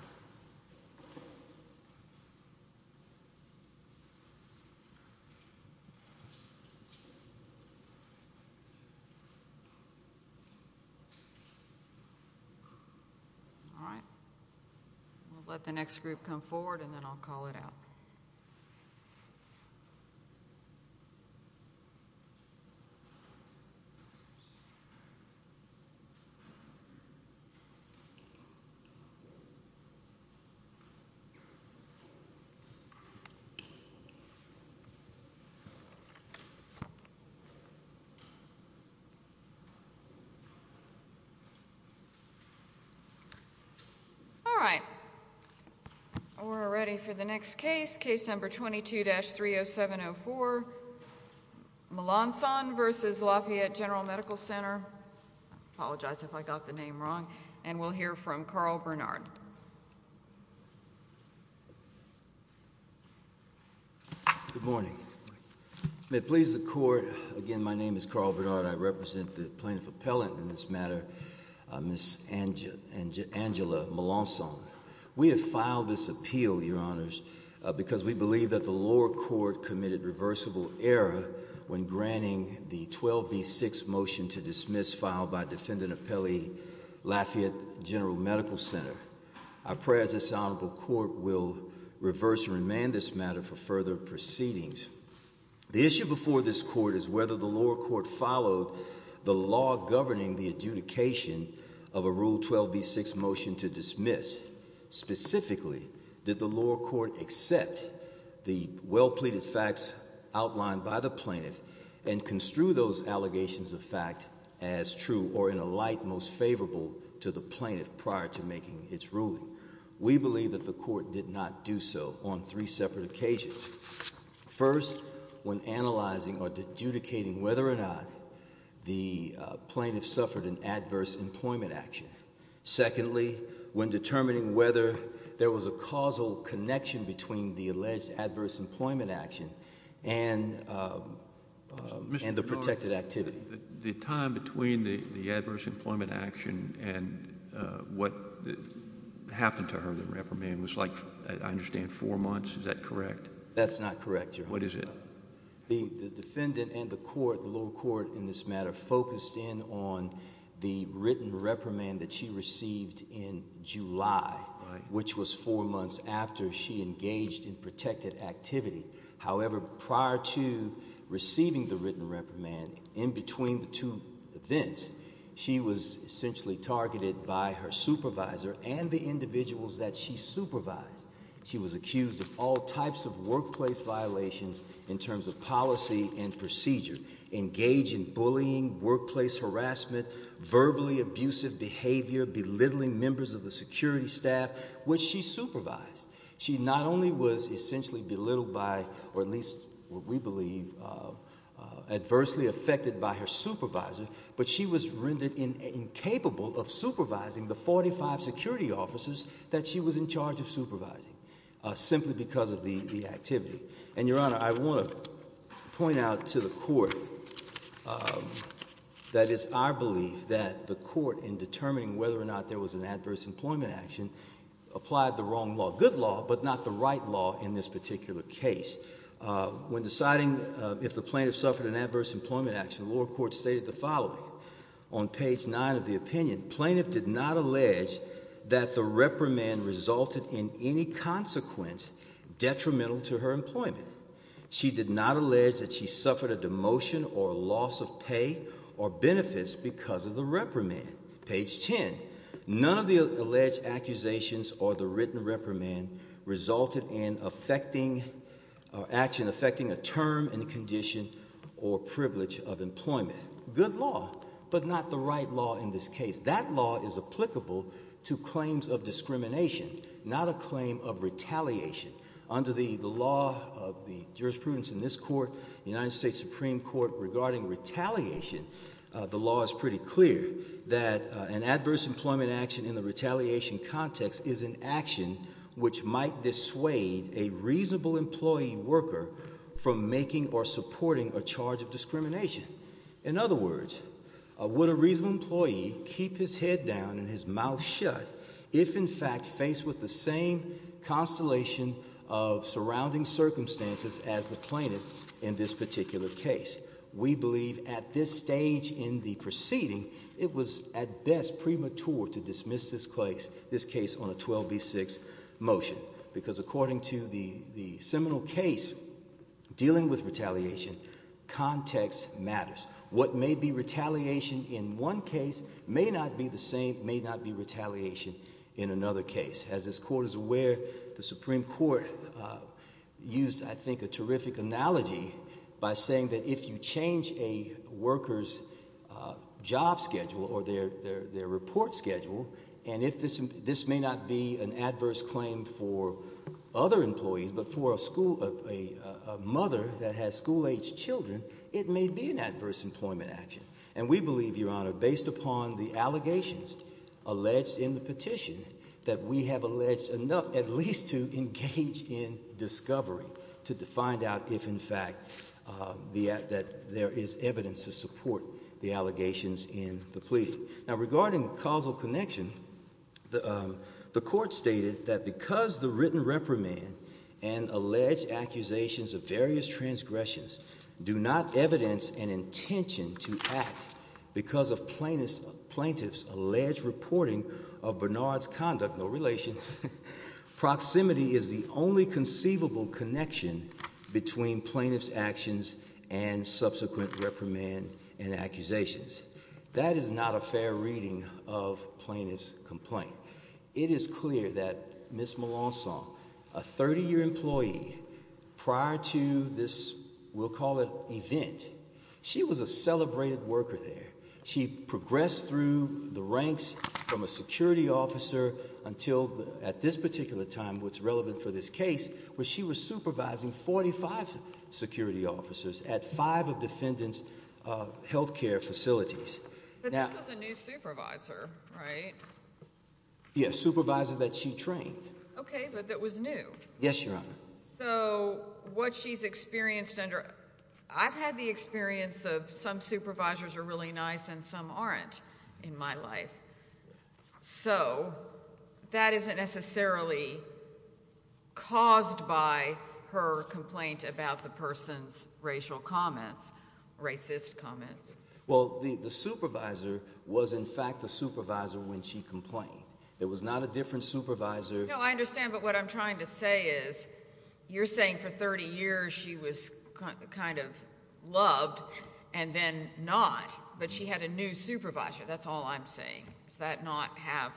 All right, we'll let the next group come forward and then I'll call it out. All right, we're ready for the next case. Case number 22-30704, Melancon v. Lafayette Gen Med Ctr. I apologize if I got the name wrong. And we'll hear from Carl Bernard. Good morning. May it please the Court, again, my name is Carl Bernard. I represent the plaintiff appellant in this matter, Ms. Angela Melancon. We have filed this appeal, Your Honors, because we believe that the lower court committed reversible error when granting the 12B6 motion to dismiss filed by Defendant Appellee Lafayette Gen Med Ctr. I pray as this Honorable Court will reverse and remand this matter for further proceedings. The issue before this Court is whether the lower court followed the law governing the adjudication of a Rule 12B6 motion to dismiss. Specifically, did the lower court accept the well-pleaded facts outlined by the plaintiff and construe those allegations of fact as true or in a light most favorable to the plaintiff prior to making its ruling? We believe that the court did not do so on three separate occasions. First, when analyzing or adjudicating whether or not the plaintiff suffered an adverse employment action. Secondly, when determining whether there was a causal connection between the alleged adverse employment action and the protected activity. The time between the adverse employment action and what happened to her, the reprimand, was like, I understand, four months. Is that correct? That's not correct, Your Honor. What is it? The defendant and the court, the lower court in this matter, focused in on the written reprimand that she received in July, which was four months after she engaged in protected activity. However, prior to receiving the written reprimand, in between the two events, she was essentially targeted by her supervisor and the individuals that she supervised. She was accused of all types of workplace violations in terms of policy and procedure, engaged in bullying, workplace harassment, verbally abusive behavior, belittling members of the security staff, which she supervised. She not only was essentially belittled by, or at least what we believe, adversely affected by her supervisor, but she was rendered incapable of supervising the 45 security officers that she was in charge of supervising simply because of the activity. And, Your Honor, I want to point out to the court that it's our belief that the court, in determining whether or not there was an adverse employment action, applied the wrong law. Good law, but not the right law in this particular case. When deciding if the plaintiff suffered an adverse employment action, the lower court stated the following. On page nine of the opinion, plaintiff did not allege that the reprimand resulted in any consequence detrimental to her employment. She did not allege that she suffered a demotion or loss of pay or benefits because of the reprimand. Page ten, none of the alleged accusations or the written reprimand resulted in affecting, or action affecting a term and condition or privilege of employment. Good law, but not the right law in this case. That law is applicable to claims of discrimination, not a claim of retaliation. Under the law of the jurisprudence in this court, the United States Supreme Court, regarding retaliation, the law is pretty clear that an adverse employment action in the retaliation context is an action which might dissuade a reasonable employee worker from making or supporting a charge of discrimination. In other words, would a reasonable employee keep his head down and his mouth shut if, in fact, faced with the same constellation of surrounding circumstances as the plaintiff in this particular case? We believe at this stage in the proceeding, it was at best premature to dismiss this case on a 12B6 motion because according to the seminal case dealing with retaliation, context matters. What may be retaliation in one case may not be the same, may not be retaliation in another case. As this court is aware, the Supreme Court used, I think, a terrific analogy by saying that if you change a worker's job schedule or their report schedule, and if this may not be an adverse claim for other employees but for a mother that has school-aged children, it may be an adverse employment action. And we believe, Your Honor, based upon the allegations alleged in the petition, that we have alleged enough at least to engage in discovery, to find out if, in fact, that there is evidence to support the allegations in the plea. Now regarding causal connection, the court stated that because the written reprimand and alleged accusations of various transgressions do not evidence an intention to act because of plaintiff's alleged reporting of Bernard's conduct, no relation, proximity is the only conceivable connection between plaintiff's actions and subsequent reprimand and accusations. That is not a fair reading of plaintiff's complaint. It is clear that Ms. Melancon, a 30-year employee prior to this, we'll call it, event, she was a celebrated worker there. She progressed through the ranks from a security officer until, at this particular time, what's relevant for this case, where she was supervising 45 security officers at five of defendants' health care facilities. But this was a new supervisor, right? Yes, a supervisor that she trained. Okay, but that was new. Yes, Your Honor. So what she's experienced under – I've had the experience of some supervisors are really nice and some aren't in my life. So that isn't necessarily caused by her complaint about the person's racial comments, racist comments. Well, the supervisor was, in fact, the supervisor when she complained. It was not a different supervisor. No, I understand, but what I'm trying to say is you're saying for 30 years she was kind of loved and then not, but she had a new supervisor. That's all I'm saying. Does that not have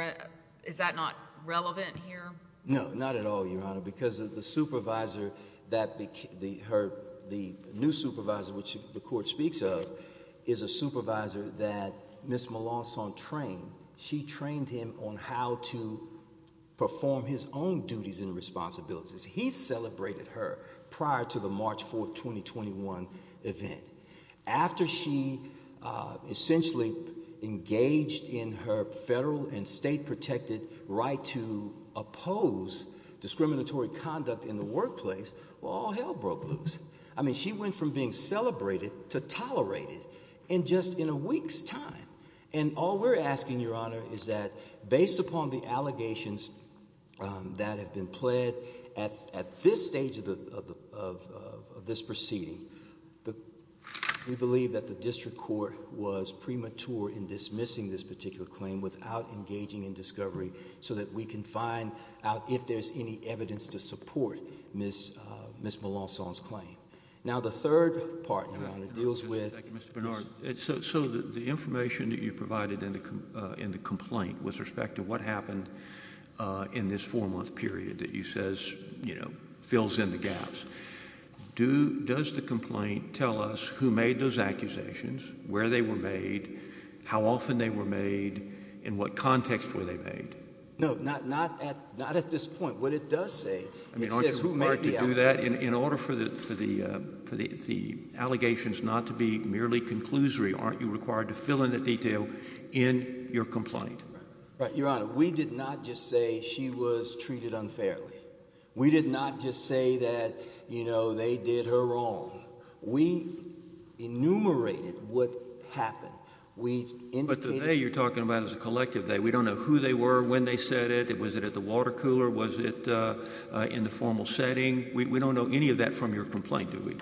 – is that not relevant here? No, not at all, Your Honor, because the supervisor that – the new supervisor which the court speaks of is a supervisor that Ms. Melancon trained. She trained him on how to perform his own duties and responsibilities. He celebrated her prior to the March 4, 2021 event. After she essentially engaged in her federal and state-protected right to oppose discriminatory conduct in the workplace, well, all hell broke loose. I mean she went from being celebrated to tolerated in just in a week's time. And all we're asking, Your Honor, is that based upon the allegations that have been pled at this stage of this proceeding, we believe that the district court was premature in dismissing this particular claim without engaging in discovery so that we can find out if there's any evidence to support Ms. Melancon's claim. Now, the third part, Your Honor, deals with – the question that you provided in the complaint with respect to what happened in this four-month period that you says fills in the gaps. Does the complaint tell us who made those accusations, where they were made, how often they were made, and what context were they made? No, not at this point. What it does say, it says who made the allegations. In order for the allegations not to be merely conclusory, aren't you required to fill in the detail in your complaint? Your Honor, we did not just say she was treated unfairly. We did not just say that, you know, they did her wrong. We enumerated what happened. But the they you're talking about is a collective they. We don't know who they were, when they said it, was it at the water cooler, was it in the formal setting. We don't know any of that from your complaint, do we?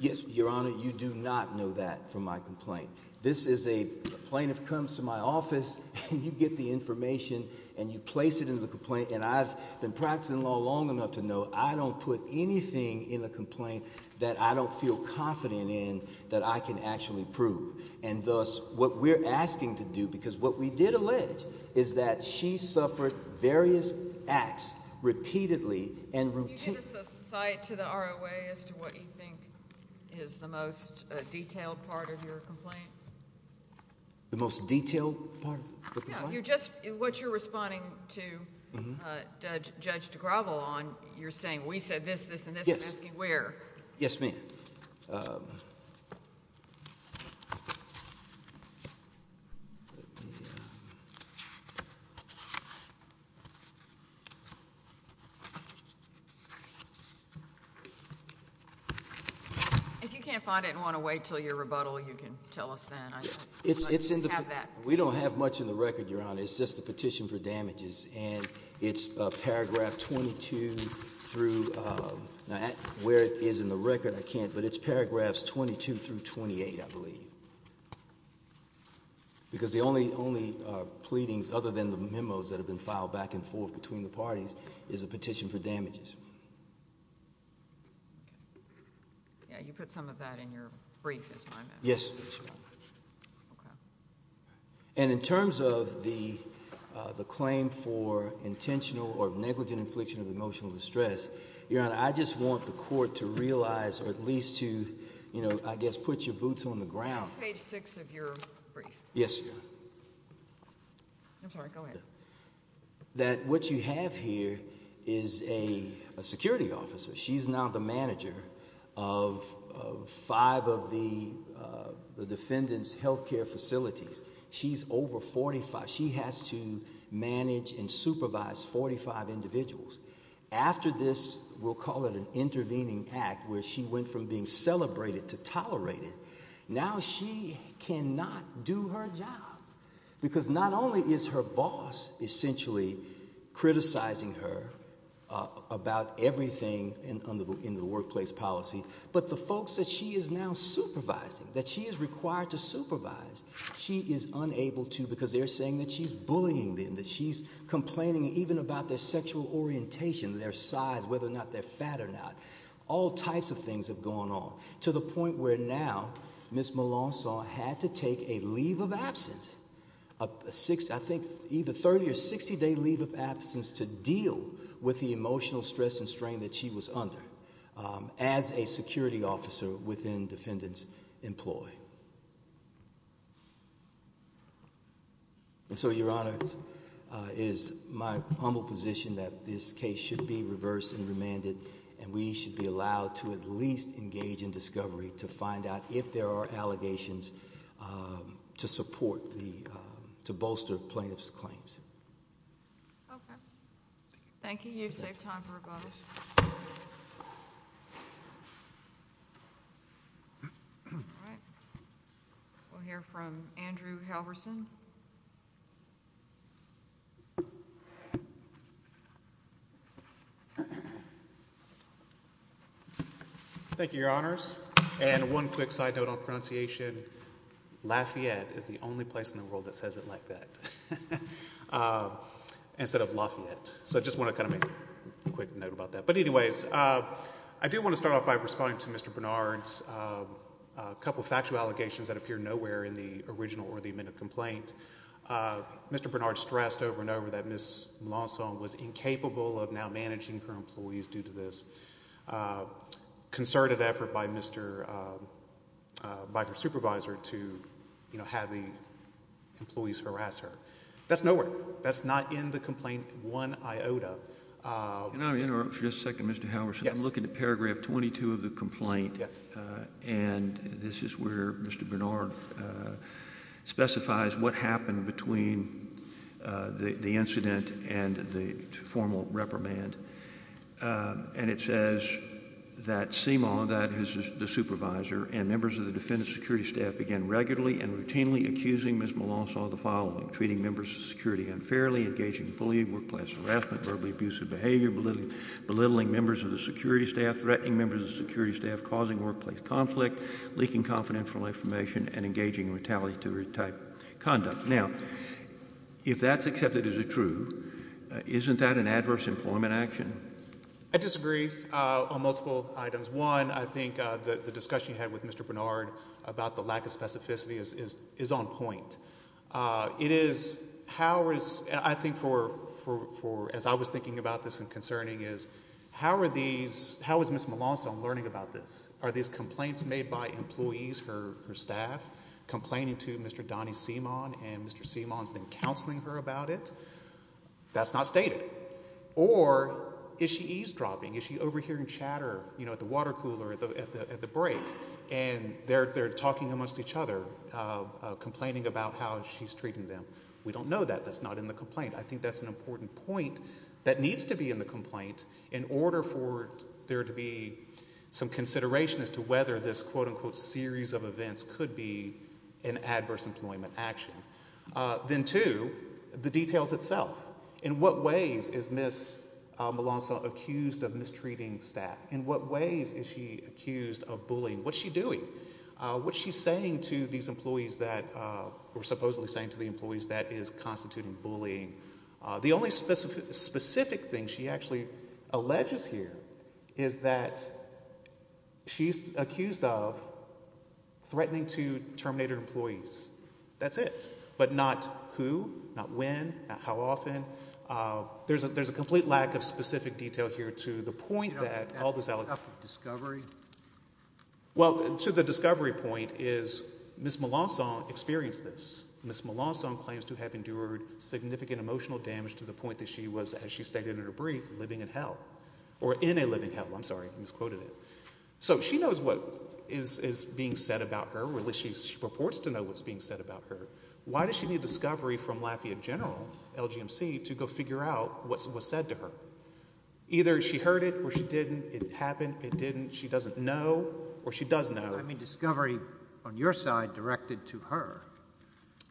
Yes, Your Honor, you do not know that from my complaint. This is a – a plaintiff comes to my office and you get the information and you place it in the complaint. And I've been practicing law long enough to know I don't put anything in a complaint that I don't feel confident in that I can actually prove. And thus, what we're asking to do – because what we did allege is that she suffered various acts repeatedly and routinely. Can you give us a cite to the ROA as to what you think is the most detailed part of your complaint? The most detailed part of the complaint? No, you're just – what you're responding to Judge DeGravo on, you're saying we said this, this, and this. Yes. I'm asking where. Yes, ma'am. If you can't find it and want to wait until your rebuttal, you can tell us then. It's in the – we don't have much in the record, Your Honor. It's just a petition for damages, and it's paragraph 22 through – now, where it is in the record, I can't, but it's paragraphs 22 through 28, I believe. Because the only – only pleadings other than the memos that have been filed back and forth between the parties is a petition for damages. Yeah, you put some of that in your brief, is what I meant. Yes. Okay. And in terms of the claim for intentional or negligent infliction of emotional distress, Your Honor, I just want the court to realize or at least to, you know, I guess put your boots on the ground. That's page six of your brief. Yes, Your Honor. I'm sorry. Go ahead. That what you have here is a security officer. She's now the manager of five of the defendants' health care facilities. She's over 45. She has to manage and supervise 45 individuals. After this, we'll call it an intervening act where she went from being celebrated to tolerated, now she cannot do her job because not only is her boss essentially criticizing her about everything in the workplace policy, but the folks that she is now supervising, that she is required to supervise, she is unable to because they're saying that she's bullying them, that she's complaining even about their sexual orientation. Their size, whether or not they're fat or not. All types of things have gone on to the point where now Ms. Malonso had to take a leave of absence, I think either 30 or 60 day leave of absence to deal with the emotional stress and strain that she was under as a security officer within defendants' employ. And so, Your Honor, it is my humble position that this case should be reversed and remanded and we should be allowed to at least engage in discovery to find out if there are allegations to support the, to bolster plaintiff's claims. Okay. Thank you. You've saved time for rebuttals. All right. We'll hear from Andrew Halverson. Thank you, Your Honors. And one quick side note on pronunciation. Lafayette is the only place in the world that says it like that instead of Lafayette. So I just want to kind of make a quick note about that. But anyways, I do want to start off by responding to Mr. Bernard's couple of factual allegations that appear nowhere in the original or the amended complaint. Mr. Bernard stressed over and over that Ms. Mlancon was incapable of now managing her employees due to this concerted effort by her supervisor to, you know, have the employees harass her. That's nowhere. That's not in the complaint one iota. Can I interrupt for just a second, Mr. Halverson? Yes. I'm looking at paragraph 22 of the complaint. Yes. And this is where Mr. Bernard specifies what happened between the incident and the formal reprimand. And it says that CIMA, that is the supervisor, and members of the defendant's security staff began regularly and routinely accusing Ms. Mlancon of the following. Treating members of security unfairly, engaging in bullying, workplace harassment, verbally abusive behavior, belittling members of the security staff, threatening members of the security staff, causing workplace conflict, leaking confidential information, and engaging in retaliatory type conduct. Now, if that's accepted as true, isn't that an adverse employment action? I disagree on multiple items. One, I think the discussion you had with Mr. Bernard about the lack of specificity is on point. It is how is – I think for – as I was thinking about this and concerning is how are these – how is Ms. Mlancon learning about this? Are these complaints made by employees, her staff, complaining to Mr. Donnie Seamon and Mr. Seamon's then counseling her about it? That's not stated. Or is she eavesdropping? Is she overhearing chatter at the water cooler at the break and they're talking amongst each other, complaining about how she's treating them? We don't know that. That's not in the complaint. I think that's an important point that needs to be in the complaint in order for there to be some consideration as to whether this quote-unquote series of events could be an adverse employment action. Then two, the details itself. In what ways is Ms. Mlancon accused of mistreating staff? In what ways is she accused of bullying? What's she doing? What's she saying to these employees that – or supposedly saying to the employees that is constituting bullying? The only specific thing she actually alleges here is that she's accused of threatening to terminate her employees. That's it. But not who, not when, not how often. There's a complete lack of specific detail here to the point that all this – Well, to the discovery point is Ms. Mlancon experienced this. Ms. Mlancon claims to have endured significant emotional damage to the point that she was, as she stated in her brief, living in hell. Or in a living hell. I'm sorry. I misquoted it. So she knows what is being said about her, or at least she purports to know what's being said about her. Why does she need discovery from Lafayette General, LGMC, to go figure out what's said to her? Either she heard it or she didn't. It happened. It didn't. She doesn't know or she does know. I mean discovery on your side directed to her.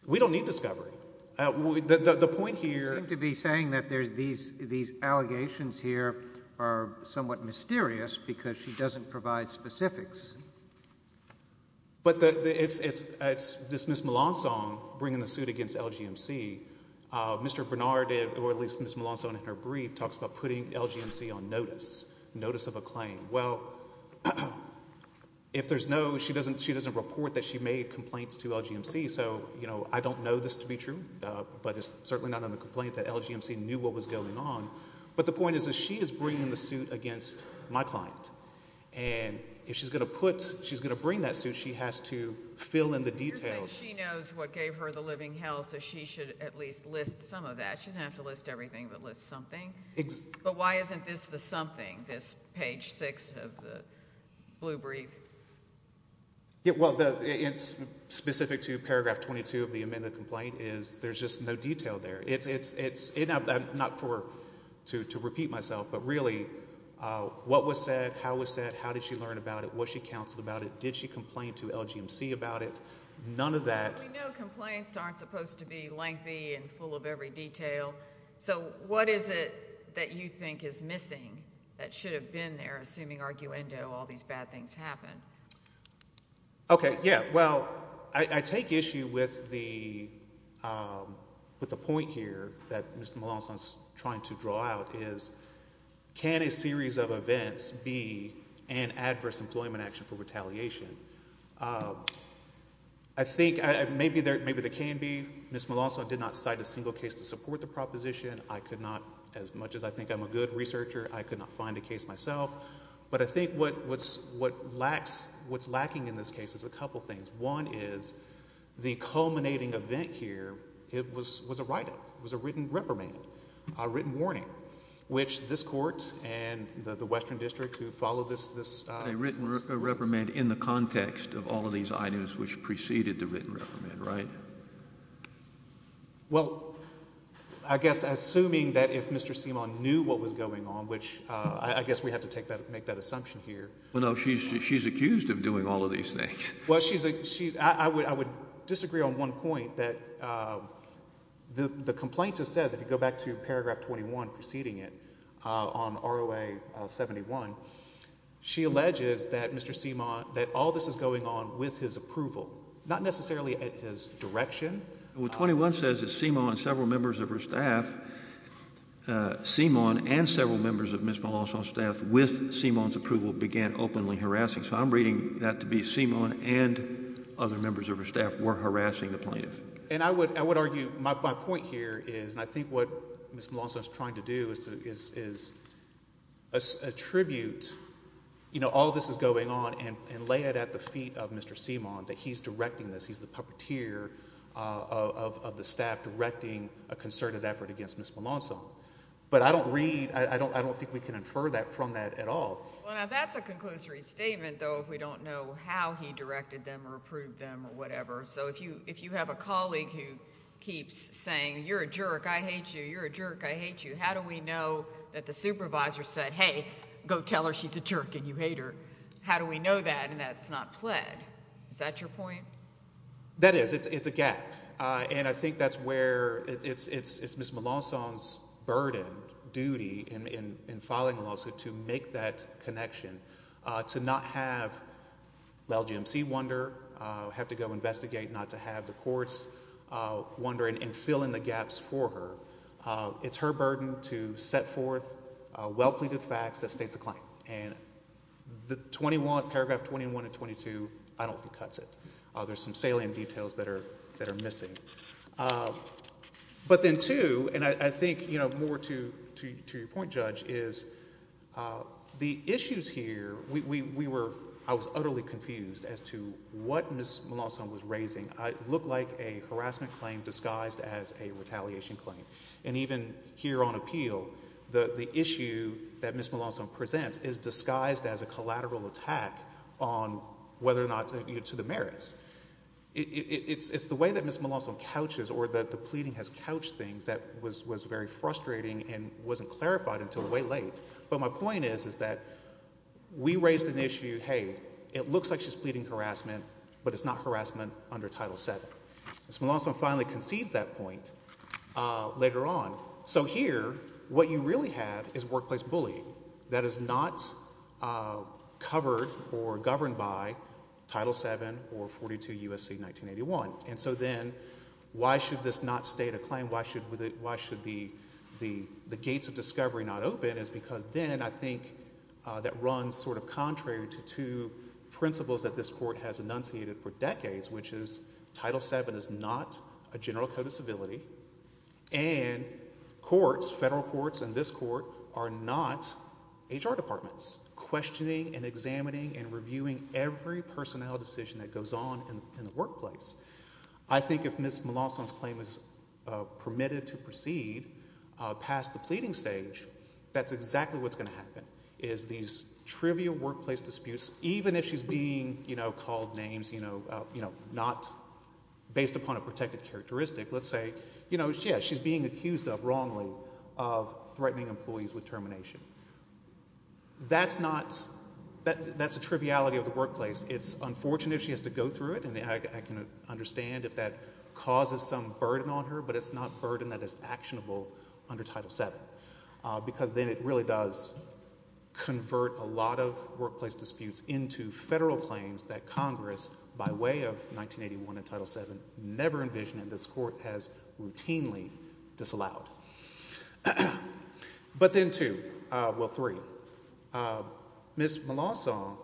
We don't need discovery. The point here – You seem to be saying that these allegations here are somewhat mysterious because she doesn't provide specifics. But it's Ms. Mlancon bringing the suit against LGMC. Mr. Bernard, or at least Ms. Mlancon in her brief, talks about putting LGMC on notice, notice of a claim. Well, if there's no – she doesn't report that she made complaints to LGMC, so I don't know this to be true. But it's certainly not a complaint that LGMC knew what was going on. But the point is that she is bringing the suit against my client. And if she's going to put – if she's going to bring that suit, she has to fill in the details. She knows what gave her the living hell, so she should at least list some of that. She doesn't have to list everything but list something. But why isn't this the something, this page six of the blue brief? Well, it's specific to paragraph 22 of the amended complaint is there's just no detail there. It's – not to repeat myself, but really what was said, how was said, how did she learn about it, what she counseled about it, did she complain to LGMC about it? None of that. Well, we know complaints aren't supposed to be lengthy and full of every detail. So what is it that you think is missing that should have been there, assuming arguendo all these bad things happen? Okay, yeah. Well, I take issue with the point here that Mr. Malonson is trying to draw out is can a series of events be an adverse employment action for retaliation? I think maybe there can be. Ms. Malonson did not cite a single case to support the proposition. I could not. As much as I think I'm a good researcher, I could not find a case myself. But I think what's lacking in this case is a couple of things. One is the culminating event here was a write-up, was a written reprimand, a written warning, which this Court and the Western District who follow this process. A written reprimand in the context of all of these items which preceded the written reprimand, right? Well, I guess assuming that if Mr. Seamon knew what was going on, which I guess we have to make that assumption here. Well, no, she's accused of doing all of these things. Well, she's – I would disagree on one point that the complaint just says, if you go back to paragraph 21 preceding it on ROA 71, she alleges that Mr. Seamon – that all this is going on with his approval, not necessarily at his direction. What 21 says is Seamon and several members of her staff – Seamon and several members of Ms. Malonzo's staff with Seamon's approval began openly harassing. So I'm reading that to be Seamon and other members of her staff were harassing the plaintiff. And I would argue – my point here is – and I think what Ms. Malonzo is trying to do is attribute all this is going on and lay it at the feet of Mr. Seamon that he's directing this. He's the puppeteer of the staff directing a concerted effort against Ms. Malonzo. But I don't read – I don't think we can infer that from that at all. Well, now that's a conclusory statement though if we don't know how he directed them or approved them or whatever. So if you have a colleague who keeps saying, you're a jerk, I hate you, you're a jerk, I hate you, how do we know that the supervisor said, hey, go tell her she's a jerk and you hate her? How do we know that and that's not pled? Is that your point? That is. It's a gap. And I think that's where – it's Ms. Malonzo's burden, duty in filing a lawsuit to make that connection, to not have the LGMC wonder, have to go investigate, not to have the courts wonder and fill in the gaps for her. It's her burden to set forth well-pleaded facts that states a claim. And the 21, paragraph 21 and 22, I don't think cuts it. There's some salient details that are missing. But then two, and I think more to your point, Judge, is the issues here, we were – I was utterly confused as to what Ms. Malonzo was raising. It looked like a harassment claim disguised as a retaliation claim. And even here on appeal, the issue that Ms. Malonzo presents is disguised as a collateral attack on whether or not – to the merits. It's the way that Ms. Malonzo couches or that the pleading has couched things that was very frustrating and wasn't clarified until way late. But my point is, is that we raised an issue, hey, it looks like she's pleading harassment, but it's not harassment under Title VII. Ms. Malonzo finally concedes that point later on. So here what you really have is workplace bullying that is not covered or governed by Title VII or 42 U.S.C. 1981. And so then why should this not state a claim? And why should the gates of discovery not open is because then I think that runs sort of contrary to two principles that this court has enunciated for decades, which is Title VII is not a general code of civility, and courts, federal courts and this court, are not HR departments, questioning and examining and reviewing every personnel decision that goes on in the workplace. I think if Ms. Malonzo's claim is permitted to proceed past the pleading stage, that's exactly what's going to happen, is these trivial workplace disputes, even if she's being, you know, called names, you know, not based upon a protected characteristic. Let's say, you know, yeah, she's being accused of, wrongly, of threatening employees with termination. That's not – that's a triviality of the workplace. It's unfortunate if she has to go through it, and I can understand if that causes some burden on her, but it's not burden that is actionable under Title VII, because then it really does convert a lot of workplace disputes into federal claims that Congress, by way of 1981 and Title VII, never envisioned, and this court has routinely disallowed. But then two – well, three. Ms. Malonzo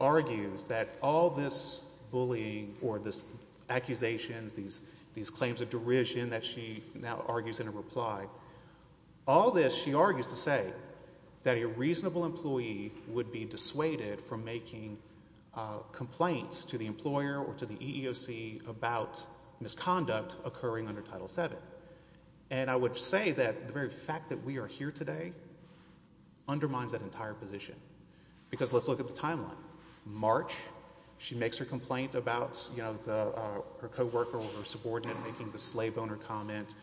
argues that all this bullying or these accusations, these claims of derision that she now argues in her reply, all this she argues to say that a reasonable employee would be dissuaded from making complaints to the employer or to the EEOC about misconduct occurring under Title VII. And I would say that the very fact that we are here today undermines that entire position. Because let's look at the timeline. March, she makes her complaint about, you know, her co-worker or her subordinate making the slave owner comment,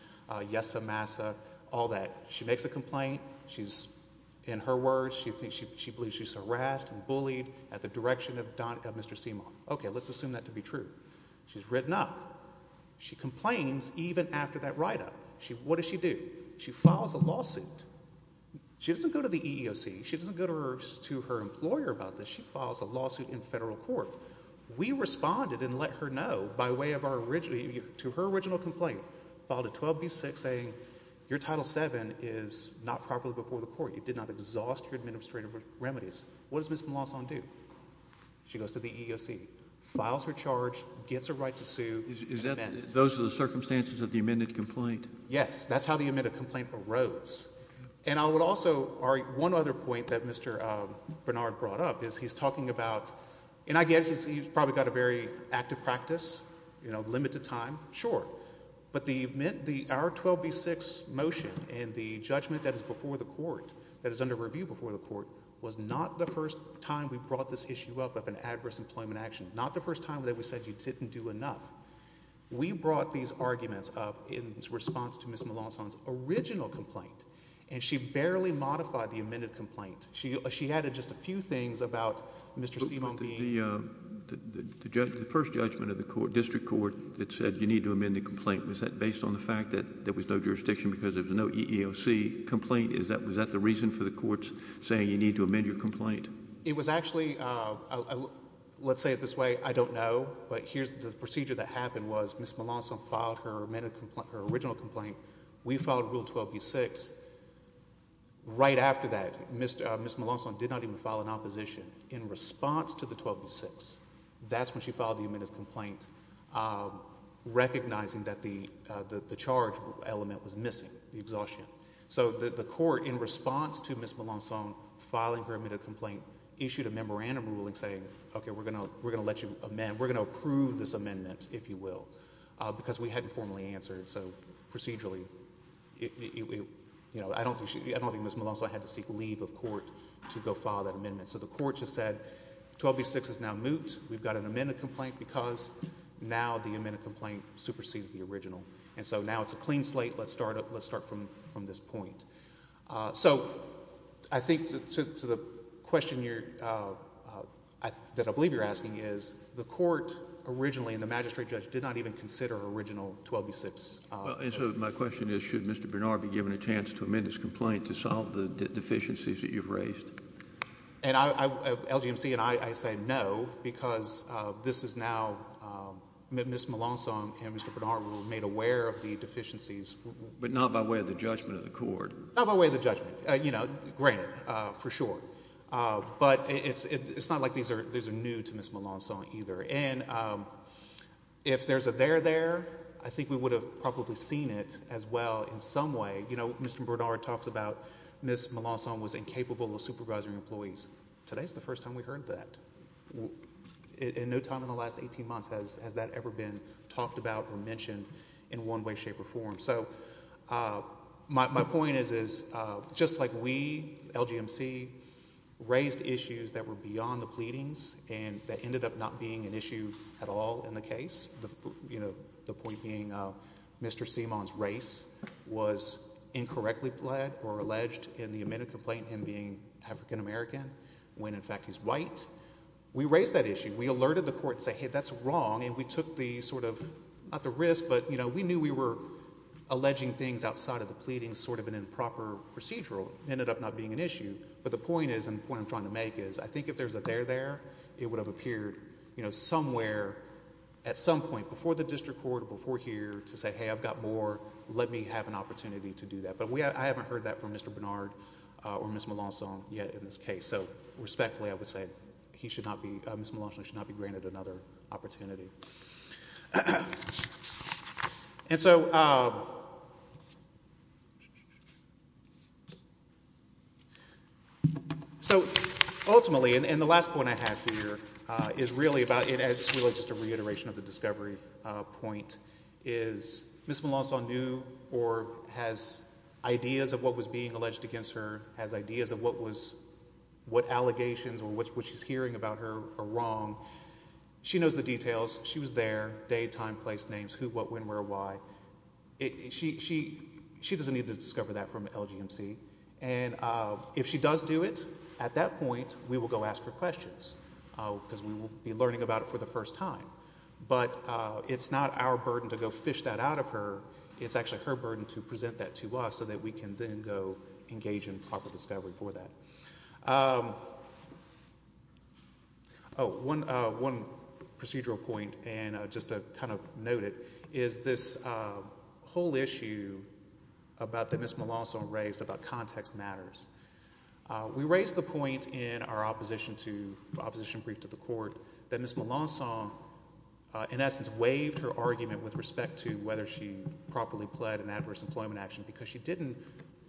yes, amassa, all that. She makes a complaint. She's – in her words, she believes she's harassed and bullied at the direction of Don – of Mr. Seamon. Okay, let's assume that to be true. She's written up. She complains even after that write-up. What does she do? She files a lawsuit. She doesn't go to the EEOC. She doesn't go to her employer about this. She files a lawsuit in federal court. We responded and let her know by way of our – to her original complaint, filed a 12B6 saying your Title VII is not properly before the court. You did not exhaust your administrative remedies. What does Ms. Malonzo do? She goes to the EEOC, files her charge, gets a right to sue. Is that – those are the circumstances of the amended complaint? Yes. That's how the amended complaint arose. And I would also – one other point that Mr. Bernard brought up is he's talking about – and I guess he's probably got a very active practice, limited time. Sure. But the – our 12B6 motion and the judgment that is before the court, that is under review before the court, was not the first time we brought this issue up of an adverse employment action, not the first time that we said you didn't do enough. We brought these arguments up in response to Ms. Malonzo's original complaint, and she barely modified the amended complaint. She added just a few things about Mr. Simon being – The first judgment of the court, district court, that said you need to amend the complaint, was that based on the fact that there was no jurisdiction because there was no EEOC complaint? Is that – was that the reason for the courts saying you need to amend your complaint? It was actually – let's say it this way. I don't know, but here's – the procedure that happened was Ms. Malonzo filed her amended complaint – her original complaint. We filed Rule 12B6. Right after that, Ms. Malonzo did not even file an opposition. In response to the 12B6, that's when she filed the amended complaint, recognizing that the charge element was missing, the exhaustion. So the court, in response to Ms. Malonzo filing her amended complaint, issued a memorandum ruling saying, okay, we're going to let you amend. We're going to approve this amendment, if you will, because we hadn't formally answered. So procedurally, I don't think Ms. Malonzo had to seek leave of court to go file that amendment. So the court just said 12B6 is now moot. We've got an amended complaint because now the amended complaint supersedes the original. And so now it's a clean slate. Let's start from this point. So I think to the question that I believe you're asking is the court originally and the magistrate judge did not even consider original 12B6. And so my question is should Mr. Bernard be given a chance to amend his complaint to solve the deficiencies that you've raised? And LGMC and I say no because this is now Ms. Malonzo and Mr. Bernard were made aware of the deficiencies. But not by way of the judgment of the court. Not by way of the judgment. You know, granted, for sure. But it's not like these are new to Ms. Malonzo either. And if there's a there there, I think we would have probably seen it as well in some way. You know, Mr. Bernard talks about Ms. Malonzo was incapable of supervising employees. Today's the first time we heard that. In no time in the last 18 months has that ever been talked about or mentioned in one way, shape, or form. So my point is just like we, LGMC, raised issues that were beyond the pleadings and that ended up not being an issue at all in the case. You know, the point being Mr. Seamon's race was incorrectly pled or alleged in the amended complaint, him being African American, when in fact he's white. We raised that issue. We alerted the court and said, hey, that's wrong. And we took the sort of, not the risk, but, you know, we knew we were alleging things outside of the pleadings, sort of an improper procedural. Ended up not being an issue. But the point is, and the point I'm trying to make is, I think if there's a there there, it would have appeared, you know, somewhere, at some point, before the district court, before here, to say, hey, I've got more. Let me have an opportunity to do that. But I haven't heard that from Mr. Bernard or Ms. Malonzo yet in this case. So respectfully I would say he should not be, Ms. Malonzo should not be granted another opportunity. And so ultimately, and the last point I have here is really about, it's really just a reiteration of the discovery point, is Ms. Malonzo knew or has ideas of what was being alleged against her, has ideas of what was, what allegations or what she's hearing about her are wrong. She knows the details. She was there. Date, time, place, names, who, what, when, where, why. She doesn't need to discover that from LGMC. And if she does do it, at that point, we will go ask her questions because we will be learning about it for the first time. But it's not our burden to go fish that out of her. It's actually her burden to present that to us so that we can then go engage in proper discovery for that. Oh, one procedural point, and just to kind of note it, is this whole issue about that Ms. Malonzo raised about context matters. We raised the point in our opposition brief to the court that Ms. Malonzo, in essence, waived her argument with respect to whether she properly pled an adverse employment action because she didn't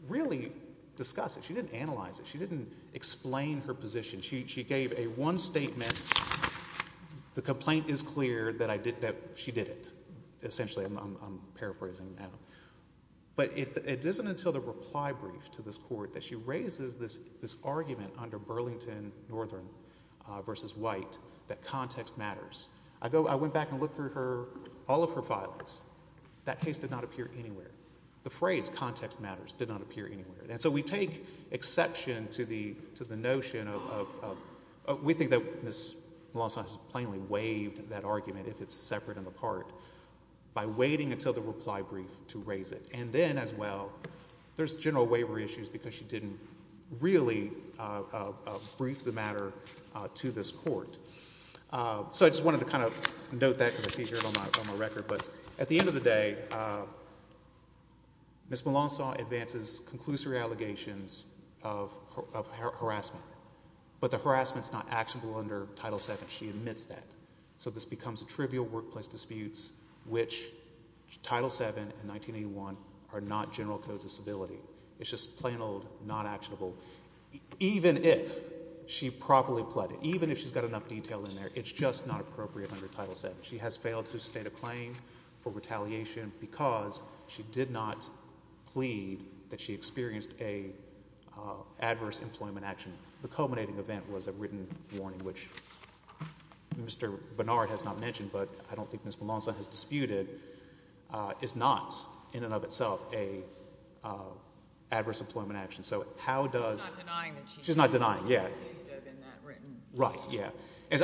really discuss it. She didn't analyze it. She didn't explain her position. She gave a one statement. The complaint is clear that she did it, essentially. I'm paraphrasing now. But it isn't until the reply brief to this court that she raises this argument under Burlington Northern v. White that context matters. I went back and looked through her, all of her filings. That case did not appear anywhere. The phrase context matters did not appear anywhere. And so we take exception to the notion of we think that Ms. Malonzo has plainly waived that argument if it's separate and apart by waiting until the reply brief to raise it. And then, as well, there's general waivery issues because she didn't really brief the matter to this court. So I just wanted to kind of note that because I see it here on my record. But at the end of the day, Ms. Malonzo advances conclusory allegations of harassment. But the harassment is not actionable under Title VII. She admits that. So this becomes a trivial workplace dispute, which Title VII and 1981 are not general codes of civility. It's just plain old not actionable, even if she properly pled it. Even if she's got enough detail in there, it's just not appropriate under Title VII. She has failed to state a claim for retaliation because she did not plead that she experienced an adverse employment action. The culminating event was a written warning, which Mr. Bernard has not mentioned but I don't think Ms. Malonzo has disputed, is not in and of itself an adverse employment action. So how does— She's not denying that she— She's not denying, yeah. She's accused of in that written— Right, yeah.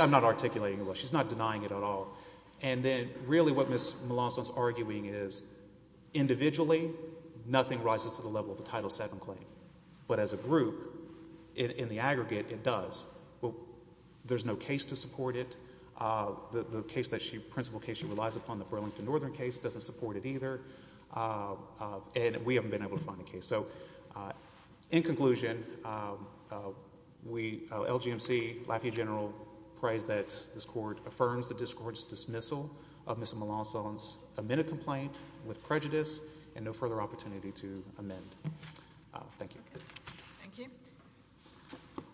I'm not articulating it. She's not denying it at all. And then really what Ms. Malonzo is arguing is individually, nothing rises to the level of the Title VII claim. But as a group, in the aggregate, it does. But there's no case to support it. The case that she—principal case she relies upon, the Burlington Northern case, doesn't support it either. And we haven't been able to find a case. So in conclusion, LGMC, Lafayette General, prays that this court affirms the district court's dismissal of Ms. Malonzo's amended complaint with prejudice and no further opportunity to amend. Thank you. Thank you.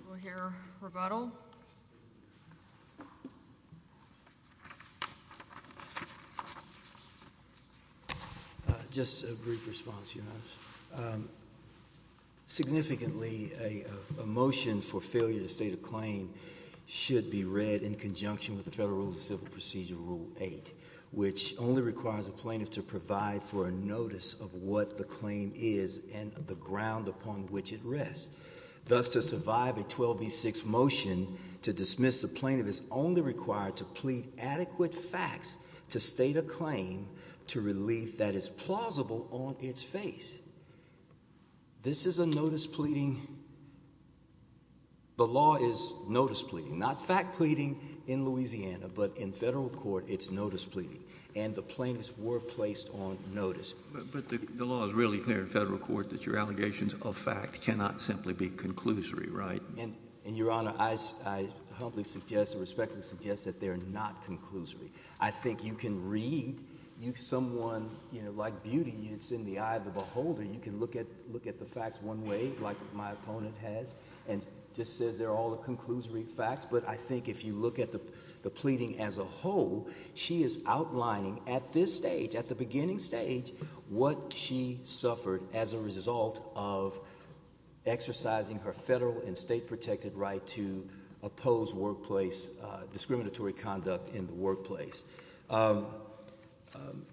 We'll hear rebuttal. Thank you. Just a brief response, Your Honor. Significantly, a motion for failure to state a claim should be read in conjunction with the Federal Rules of Civil Procedure Rule 8, which only requires a plaintiff to provide for a notice of what the claim is and the ground upon which it rests. Thus, to survive a 12B6 motion to dismiss, the plaintiff is only required to plead adequate facts to state a claim to relief that is plausible on its face. This is a notice pleading—the law is notice pleading, not fact pleading in Louisiana. But in Federal court, it's notice pleading. And the plaintiffs were placed on notice. But the law is really clear in Federal court that your allegations of fact cannot simply be conclusory, right? And, Your Honor, I humbly suggest or respectfully suggest that they're not conclusory. I think you can read someone, you know, like beauty, it's in the eye of the beholder. You can look at the facts one way, like my opponent has, and just says they're all the conclusory facts. But I think if you look at the pleading as a whole, she is outlining at this stage, at the beginning stage, what she suffered as a result of exercising her Federal and state-protected right to oppose workplace discriminatory conduct in the workplace.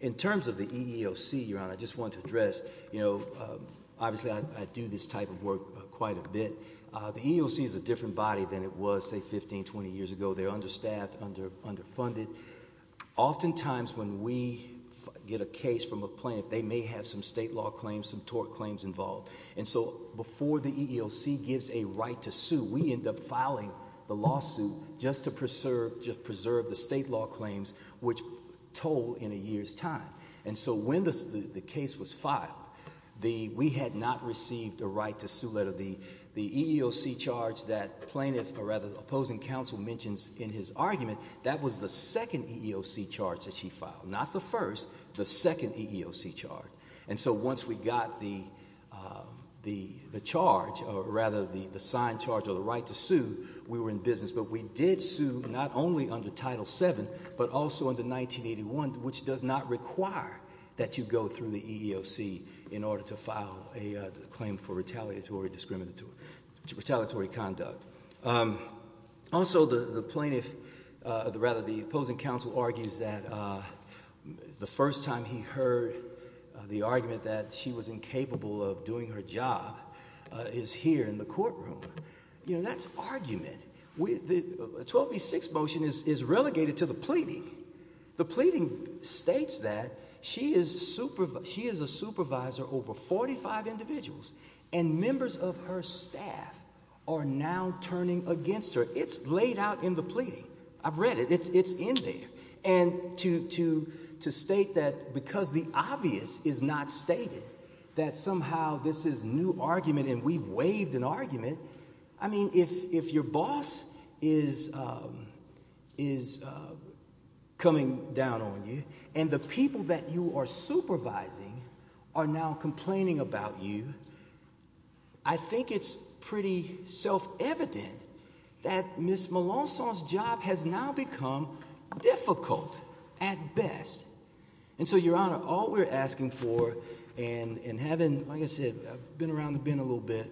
In terms of the EEOC, Your Honor, I just want to address, you know, obviously I do this type of work quite a bit. The EEOC is a different body than it was, say, 15, 20 years ago. They're understaffed, underfunded. Oftentimes when we get a case from a plaintiff, they may have some state law claims, some tort claims involved. And so before the EEOC gives a right to sue, we end up filing the lawsuit just to preserve the state law claims, which toll in a year's time. And so when the case was filed, we had not received a right to sue letter. The EEOC charge that the plaintiff, or rather the opposing counsel, mentions in his argument, that was the second EEOC charge that she filed. Not the first, the second EEOC charge. And so once we got the charge, or rather the signed charge or the right to sue, we were in business. But we did sue not only under Title VII, but also under 1981, which does not require that you go through the EEOC in order to file a claim for retaliatory conduct. Also, the plaintiff, or rather the opposing counsel, argues that the first time he heard the argument that she was incapable of doing her job is here in the courtroom. You know, that's argument. The 12v6 motion is relegated to the pleading. The pleading states that she is a supervisor over 45 individuals, and members of her staff are now turning against her. It's laid out in the pleading. I've read it. It's in there. And to state that because the obvious is not stated, that somehow this is new argument and we've waived an argument, I mean, if your boss is coming down on you and the people that you are supervising are now complaining about you, I think it's pretty self-evident that Ms. Melancon's job has now become difficult at best. And so, Your Honor, all we're asking for and having, like I said, been around the bend a little bit,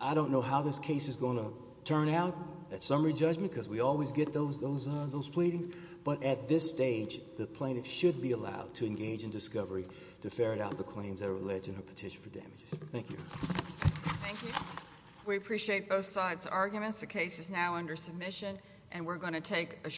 I don't know how this case is going to turn out at summary judgment because we always get those pleadings. But at this stage, the plaintiff should be allowed to engage in discovery to ferret out the claims that are alleged in her petition for damages. Thank you. Thank you. We appreciate both sides' arguments. The case is now under submission, and we're going to take a short break.